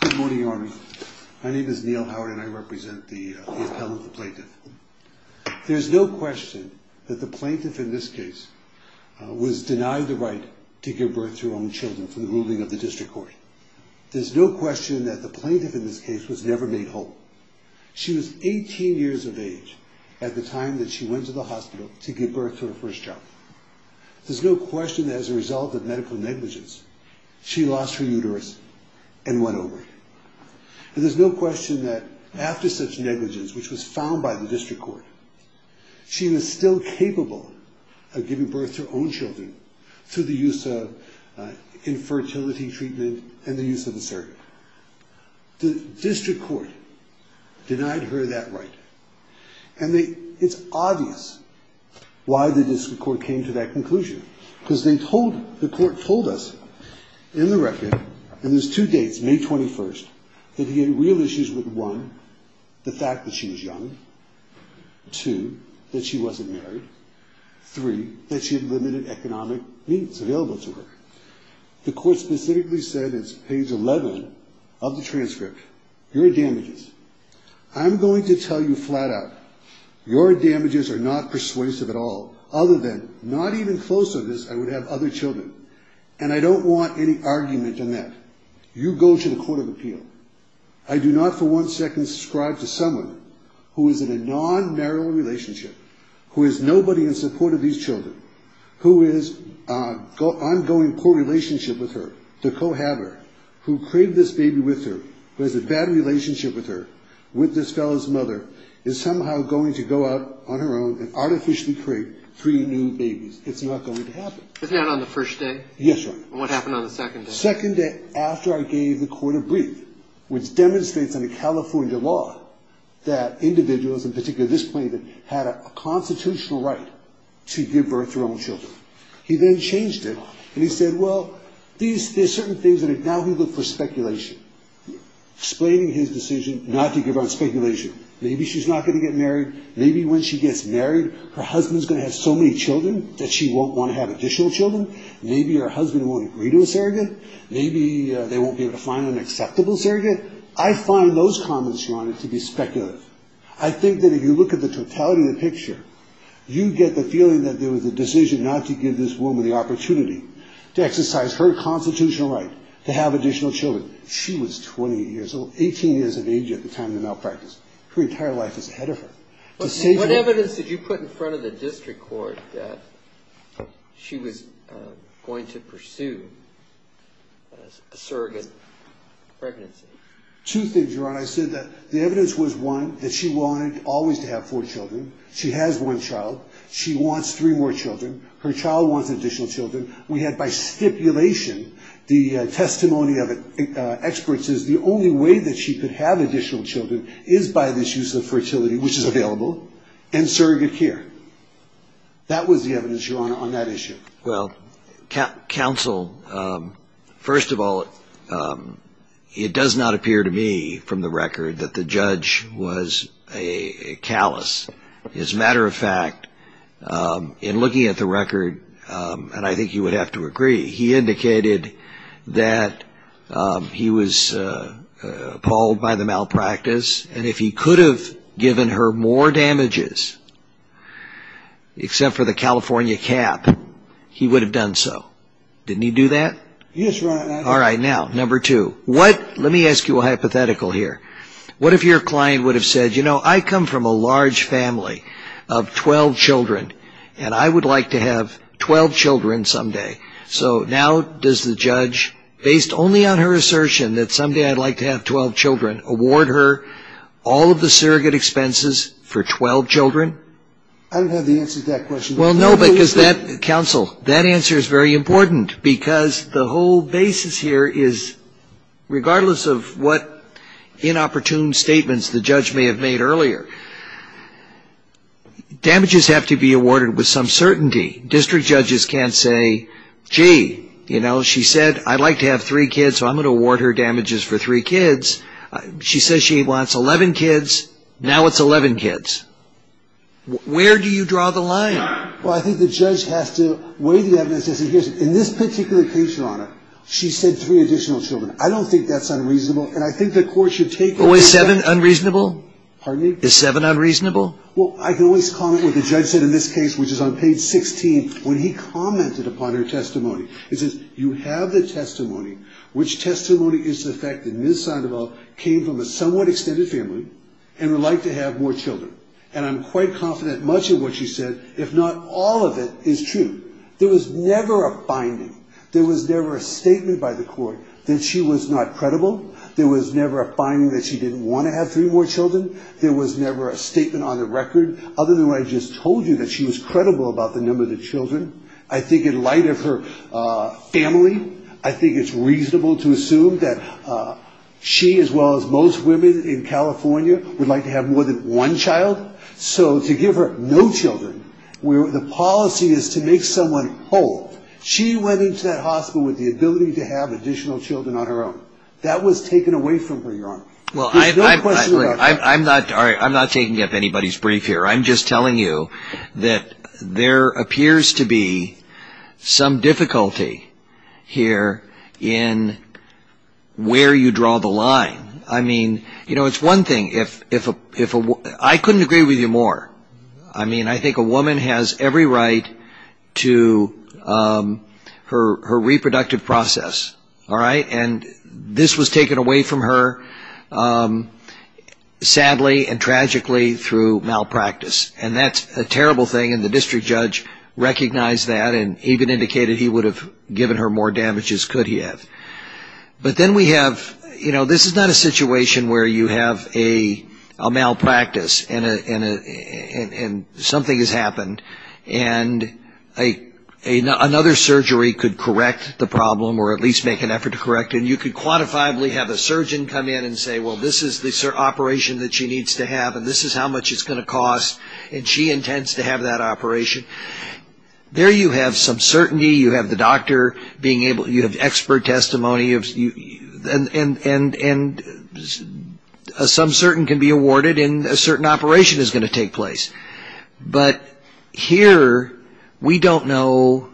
Good morning, Your Honor. My name is Neal Howard and I represent the appellant, the plaintiff. There's no question that the plaintiff in this case was denied the right to give birth to her own children from the ruling of the district court. There's no question that the plaintiff in this case was never made whole. She was 18 years of age at the time that she went to the hospital to give birth to her first child. There's no question that as a result of medical negligence, she lost her uterus and went over it. And there's no question that after such negligence, which was found by the district court, she was still capable of giving birth to her own children through the use of infertility treatment and the use of a surgeon. The district court denied her that right. And it's obvious why the district court came to that conclusion. Because they told, the court told us in the record, and there's two dates, May 21st, that he had real issues with one, the fact that she was young. Two, that she wasn't married. Three, that she had limited economic means available to her. The court specifically said, it's page 11 of the transcript, your damages. I'm going to tell you flat out, your damages are not persuasive at all. Other than, not even close to this, I would have other children. And I don't want any argument in that. You go to the court of appeal. I do not for one second subscribe to someone who is in a non-marital relationship, who is nobody in support of these children, who is an ongoing poor relationship with her, the cohabitor, who craved this baby with her, who has a bad relationship with her, with this fellow's mother, is somehow going to go out on her own and artificially create three new babies. It's not going to happen. Isn't that on the first day? Yes, sir. And what happened on the second day? Second day, after I gave the court a brief, which demonstrates in the California law that individuals, in particular this plaintiff, had a constitutional right to give birth to their own children. He then changed it. And he said, well, there are certain things, now he looked for speculation, explaining his decision not to give out speculation. Maybe she's not going to get married. Maybe when she gets married, her husband's going to have so many children that she won't want to have additional children. Maybe her husband won't agree to a surrogate. Maybe they won't be able to find an acceptable surrogate. I find those comments, Your Honor, to be speculative. I think that if you look at the totality of the picture, you get the feeling that there was a decision not to give this woman the opportunity to exercise her constitutional right to have additional children. She was 28 years old, 18 years of age at the time of the malpractice. Her entire life is ahead of her. What evidence did you put in front of the district court that she was going to pursue a surrogate pregnancy? Two things, Your Honor. I said that the evidence was, one, that she wanted always to have four children. She has one child. She wants three more children. Her child wants additional children. We had by stipulation the testimony of experts is the only way that she could have additional children is by this use of fertility, which is available, and surrogate care. That was the evidence, Your Honor, on that issue. Well, counsel, first of all, it does not appear to me from the record that the judge was a callous. As a matter of fact, in looking at the record, and I think you would have to agree, he indicated that he was appalled by the malpractice, and if he could have given her more damages except for the California cap, he would have done so. Didn't he do that? Yes, Your Honor. All right. Now, number two. Let me ask you a hypothetical here. What if your client would have said, I come from a large family of 12 children, and I would like to have 12 children someday. So now does the judge, based only on her assertion that someday I'd like to have 12 children, award her all of the surrogate expenses for 12 children? I don't have the answer to that question. Well, no, because that, counsel, that answer is very important, because the whole basis here is, regardless of what inopportune statements the judge may have made earlier, damages have to be awarded with some certainty. District judges can't say, gee, you know, she said I'd like to have three kids, so I'm going to award her damages for three kids. She says she wants 11 kids. Now it's 11 kids. Where do you draw the line? Well, I think the judge has to weigh the evidence. In this particular case, Your Honor, she said three additional children. I don't think that's unreasonable, and I think the court should take that. Oh, is seven unreasonable? Pardon me? Is seven unreasonable? Well, I can always comment what the judge said in this case, which is on page 16, when he commented upon her testimony. It says you have the testimony, which testimony is to the effect that Ms. Sandoval came from a somewhat extended family and would like to have more children. And I'm quite confident much of what she said, if not all of it, is true. There was never a finding. There was never a statement by the court that she was not credible. There was never a finding that she didn't want to have three more children. There was never a statement on the record, other than what I just told you that she was credible about the number of children. I think in light of her family, I think it's reasonable to assume that she, as well as most women in California, would like to have more than one child. So to give her no children, where the policy is to make someone whole, she went into that hospital with the ability to have additional children on her own. That was taken away from her, Your Honor. Well, I'm not taking up anybody's brief here. I'm just telling you that there appears to be some difficulty here in where you draw the line. I mean, you know, it's one thing if a woman ‑‑ I couldn't agree with you more. I mean, I think a woman has every right to her reproductive process, all right? And this was taken away from her, sadly and tragically, through malpractice. And that's a terrible thing, and the district judge recognized that and even indicated he would have given her more damage as could he have. But then we have, you know, this is not a situation where you have a malpractice and something has happened, and another surgery could correct the problem or at least make an effort to correct it. And you could quantifiably have a surgeon come in and say, well, this is the operation that she needs to have, and this is how much it's going to cost, and she intends to have that operation. There you have some certainty. You have the doctor being able ‑‑ you have expert testimony, and some certain can be awarded and a certain operation is going to take place. But here we don't know,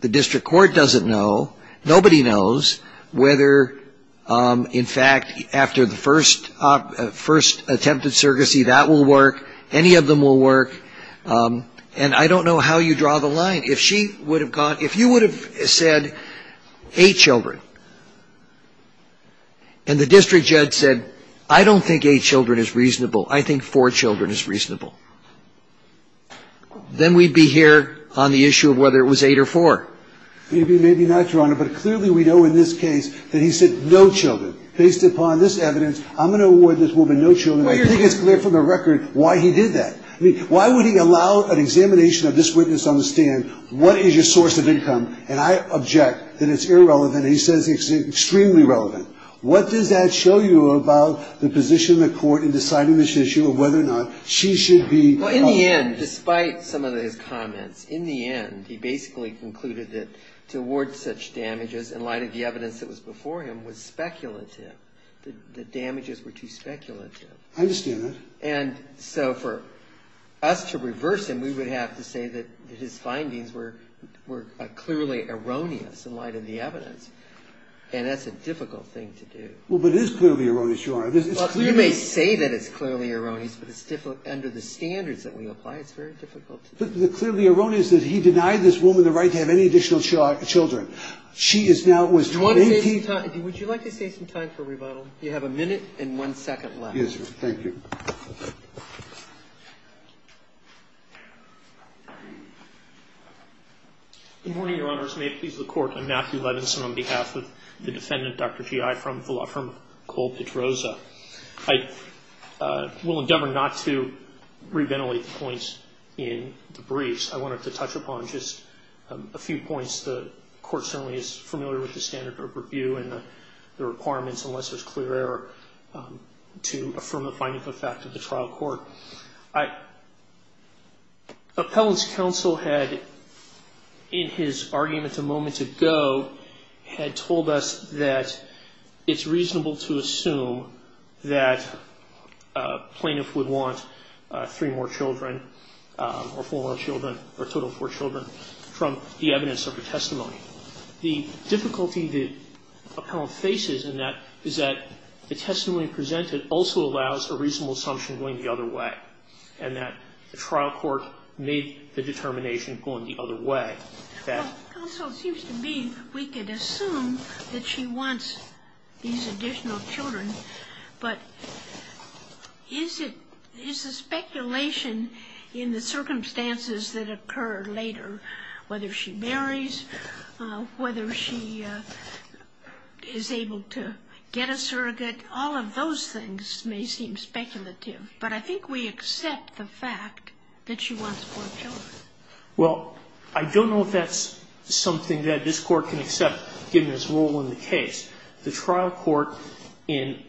the district court doesn't know, nobody knows whether, in fact, after the first attempted surrogacy that will work, any of them will work. And I don't know how you draw the line. If she would have gone ‑‑ if you would have said eight children, and the district judge said, I don't think eight children is reasonable, I think four children is reasonable, then we'd be here on the issue of whether it was eight or four. Maybe, maybe not, Your Honor, but clearly we know in this case that he said no children. Based upon this evidence, I'm going to award this woman no children. I think it's clear from the record why he did that. I mean, why would he allow an examination of this witness on the stand, what is your source of income, and I object that it's irrelevant. He says it's extremely relevant. What does that show you about the position of the court in deciding this issue of whether or not she should be ‑‑ Well, in the end, despite some of his comments, in the end, he basically concluded that to award such damages in light of the evidence that was before him was speculative. The damages were too speculative. I understand that. And so for us to reverse him, we would have to say that his findings were clearly erroneous in light of the evidence. And that's a difficult thing to do. Well, but it is clearly erroneous, Your Honor. You may say that it's clearly erroneous, but under the standards that we apply, it's very difficult to do. The clearly erroneous is that he denied this woman the right to have any additional children. She is now ‑‑ Would you like to save some time for rebuttal? You have a minute and one second left. Yes, Your Honor. Thank you. Good morning, Your Honors. May it please the Court. I'm Matthew Levinson on behalf of the defendant, Dr. Gi, from Cole Pedroza. I will endeavor not to reventilate the points in the briefs. I wanted to touch upon just a few points. The Court certainly is familiar with the standard of review and the requirements, unless there's clear error, to affirm the finding of the fact of the trial court. Appellant's counsel had, in his argument a moment ago, had told us that it's reasonable to assume that a plaintiff would want three more children or four more children, or a total of four children, from the evidence of the testimony. The difficulty that Appellant faces in that is that the testimony presented also allows a reasonable assumption going the other way, and that the trial court made the determination going the other way. Counsel, it seems to me we could assume that she wants these additional children, but is the speculation in the circumstances that occur later, whether she marries, whether she is able to get a surrogate, all of those things may seem speculative, but I think we accept the fact that she wants four children. Well, I don't know if that's something that this Court can accept, given its role in the case. The trial court in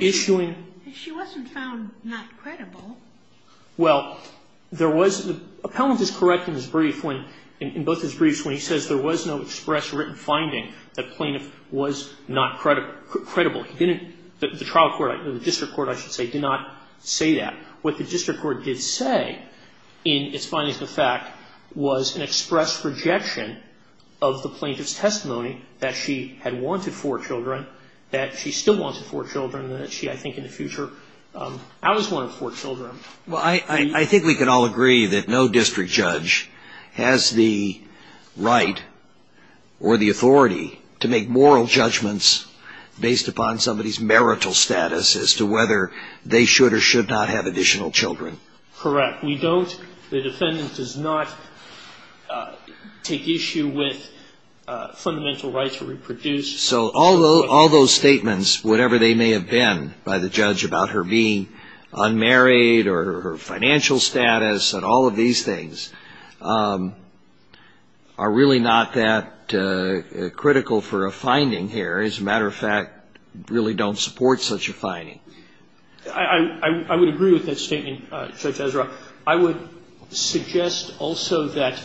issuing... She wasn't found not credible. Well, there was the... Appellant is correct in his brief when, in both his briefs, when he says there was no express written finding that plaintiff was not credible. He didn't... The trial court, the district court, I should say, did not say that. What the district court did say in its findings of the fact was an express rejection of the plaintiff's testimony that she had wanted four children, that she still wanted four children, that she, I think, in the future... I was one of four children. Well, I think we can all agree that no district judge has the right or the authority to make moral judgments based upon somebody's marital status as to whether they should or should not have additional children. Correct. We don't... The defendant does not take issue with fundamental rights to reproduce. So all those statements, whatever they may have been, by the judge about her being unmarried or her financial status and all of these things are really not that critical for a finding here. As a matter of fact, really don't support such a finding. I would agree with that statement, Judge Ezra. I would suggest also that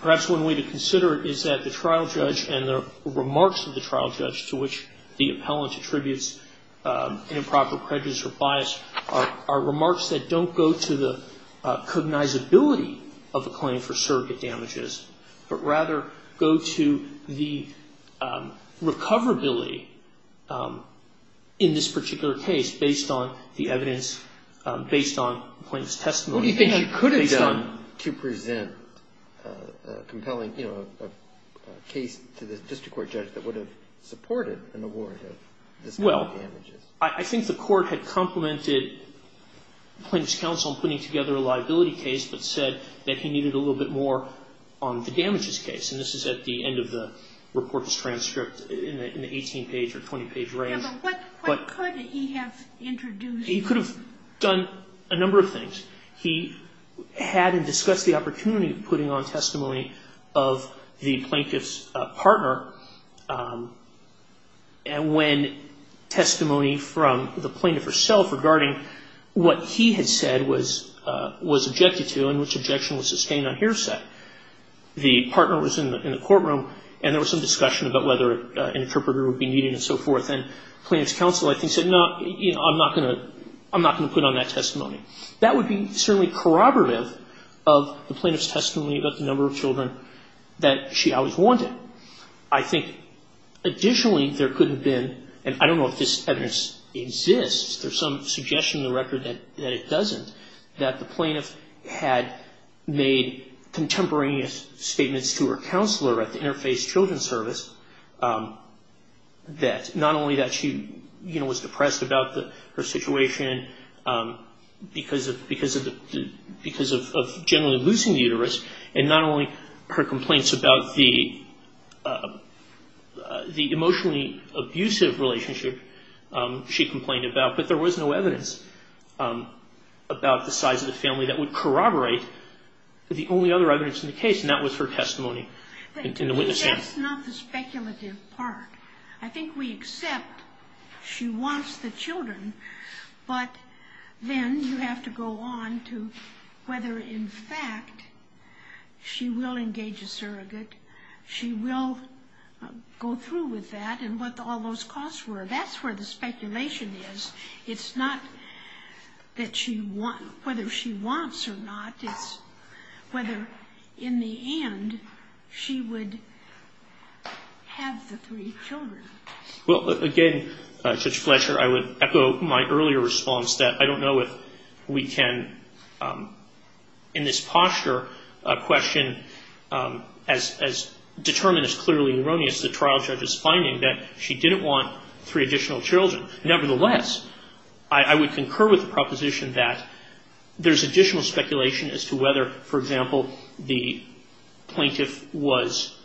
perhaps one way to consider it is that the trial judge and the remarks of the trial judge to which the appellant attributes an improper prejudice or bias are remarks that don't go to the cognizability of a claim for surrogate damages, but rather go to the recoverability in this particular case based on the evidence, based on the plaintiff's testimony. What do you think he could have done to present a compelling case to the district court judge that would have supported an award of this kind of damages? Well, I think the court had complimented the plaintiff's counsel in putting together a liability case but said that he needed a little bit more on the damages case. And this is at the end of the report's transcript in the 18-page or 20-page range. But what could he have introduced? He could have done a number of things. He had discussed the opportunity of putting on testimony of the plaintiff's partner when testimony from the plaintiff herself regarding what he had said was objected to and which objection was sustained on his side. The partner was in the courtroom, and there was some discussion about whether an interpreter would be needed and so forth. And the plaintiff's counsel, I think, said, no, I'm not going to put on that testimony. That would be certainly corroborative of the plaintiff's testimony about the number of children that she always wanted. I think additionally there could have been, and I don't know if this evidence exists, there's some suggestion in the record that it doesn't, that the plaintiff had made contemporaneous statements to her counselor at the Interface Children's Service that not only that she, you know, was depressed about her situation because of generally losing the uterus, and not only her complaints about the emotionally abusive relationship she complained about, but there was no evidence about the size of the family that would corroborate the only other evidence in the case, and that was her testimony in the witness stand. That's not the speculative part. I think we accept she wants the children, but then you have to go on to whether in fact she will engage a surrogate, she will go through with that and what all those costs were. That's where the speculation is. It's not whether she wants or not, it's whether in the end she would have the three children. Well, again, Judge Fletcher, I would echo my earlier response that I don't know if we can, in this posture, question as determined as clearly erroneous the trial judge's finding that she didn't want three additional children. Nevertheless, I would concur with the proposition that there's additional speculation as to whether, for example, the plaintiff was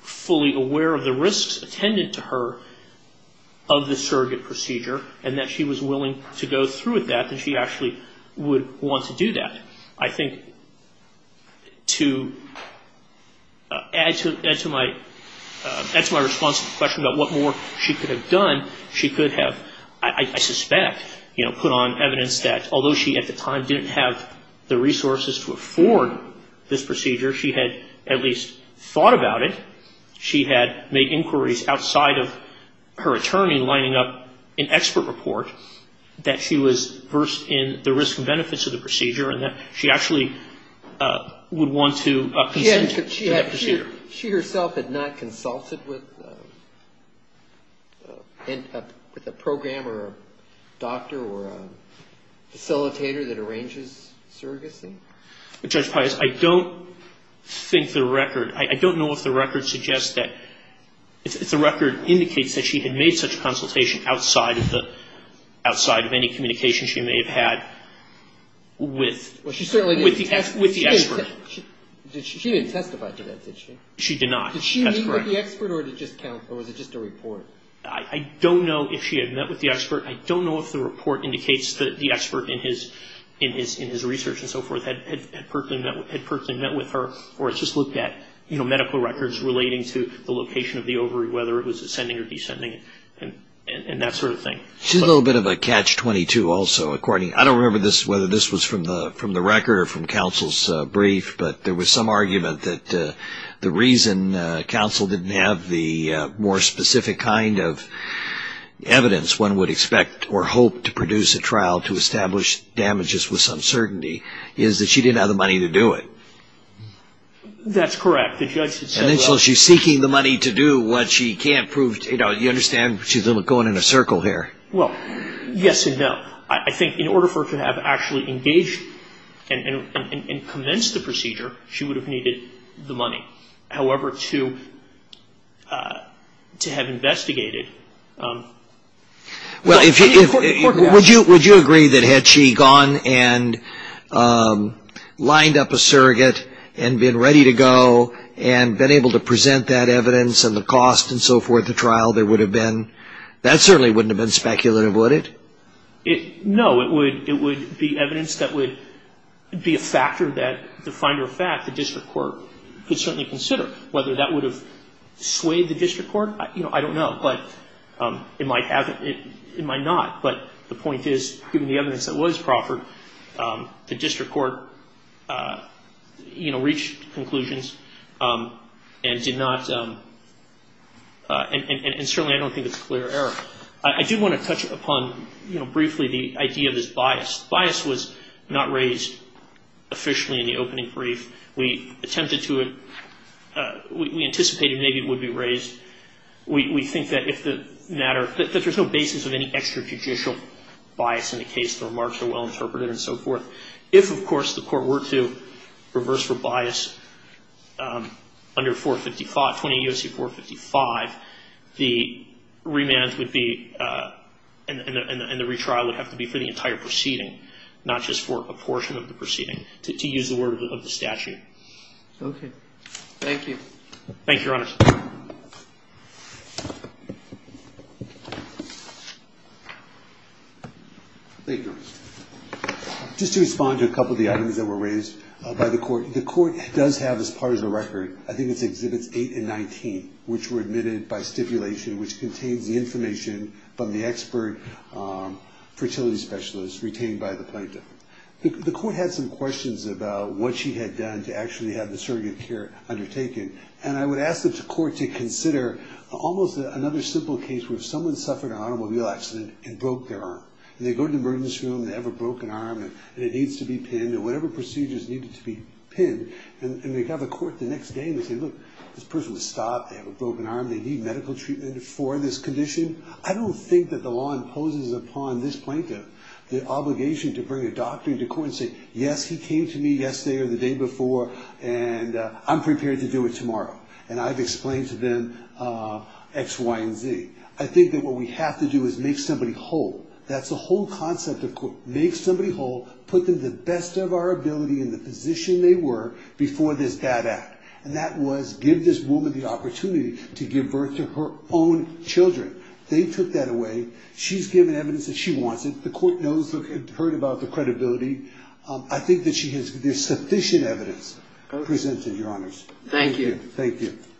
fully aware of the risks attended to her of the surrogate procedure, and that she was willing to go through with that, and she actually would want to do that. I think to add to my response to the question about what more she could have done, she could have, I suspect, put on evidence that although she at the time didn't have the resources to afford this procedure, she had at least thought about it. She had made inquiries outside of her attorney lining up an expert report that she was versed in the risks and benefits of the procedure, and that she actually would want to consent to that procedure. She herself had not consulted with a program or a doctor or a facilitator that arranges surrogacy? Judge Pius, I don't think the record, I don't know if the record suggests that, if the record indicates that she had made such a consultation outside of the, outside of any communication she may have had with the expert. She didn't testify to that, did she? She did not, that's correct. Did she meet with the expert, or was it just a report? I don't know if she had met with the expert. I don't know if the report indicates that the expert in his research and so forth had personally met with her or just looked at medical records relating to the location of the ovary, whether it was ascending or descending, and that sort of thing. She's a little bit of a catch-22 also, according, I don't remember whether this was from the record or from counsel's brief, but there was some argument that the reason counsel didn't have the more specific kind of evidence one would expect or hope to produce a trial to establish damages with some certainty is that she didn't have the money to do it. That's correct. And so she's seeking the money to do what she can't prove, you know, you understand she's going in a circle here. Well, yes and no. I think in order for her to have actually engaged and commenced the procedure, she would have needed the money. However, to have investigated. Would you agree that had she gone and lined up a surrogate and been ready to go and been able to present that evidence and the cost and so forth, the trial there would have been, that certainly wouldn't have been speculative, would it? No. It would be evidence that would be a factor that the finder of fact, the district court, could certainly consider. Whether that would have swayed the district court, you know, I don't know. But it might have, it might not. But the point is, given the evidence that was proffered, the district court, you know, reached conclusions and did not, and certainly I don't think it's clear error. I do want to touch upon, you know, briefly the idea of this bias. Bias was not raised officially in the opening brief. We attempted to, we anticipated maybe it would be raised. We think that if the matter, that there's no basis of any extrajudicial bias in the case. The remarks are well interpreted and so forth. If, of course, the court were to reverse for bias under 455, 20 U.S.C. 455, the remand would be, and the retrial would have to be for the entire proceeding, not just for a portion of the proceeding, to use the word of the statute. Okay. Thank you. Thank you, Your Honor. Thank you. Just to respond to a couple of the items that were raised by the court, the court does have as part of the record, I think it's Exhibits 8 and 19, which were admitted by stipulation, which contains the information from the expert fertility specialist retained by the plaintiff. The court had some questions about what she had done to actually have the surrogate care undertaken. And I would ask the court to consider almost another simple case where someone suffered an automobile accident and broke their arm. And they go to the emergency room and they have a broken arm and it needs to be pinned or whatever procedures needed to be pinned. And they have a court the next day and they say, look, this person was stopped. They have a broken arm. They need medical treatment for this condition. I don't think that the law imposes upon this plaintiff the obligation to bring a doctor into court and say, yes, he came to me yesterday or the day before and I'm prepared to do it tomorrow. And I've explained to them X, Y, and Z. I think that what we have to do is make somebody whole. That's the whole concept of court. Make somebody whole. Put them to the best of our ability in the position they were before this bad act. And that was give this woman the opportunity to give birth to her own children. They took that away. She's given evidence that she wants it. The court knows and heard about the credibility. I think that she has sufficient evidence presented, Your Honors. Thank you. Thank you.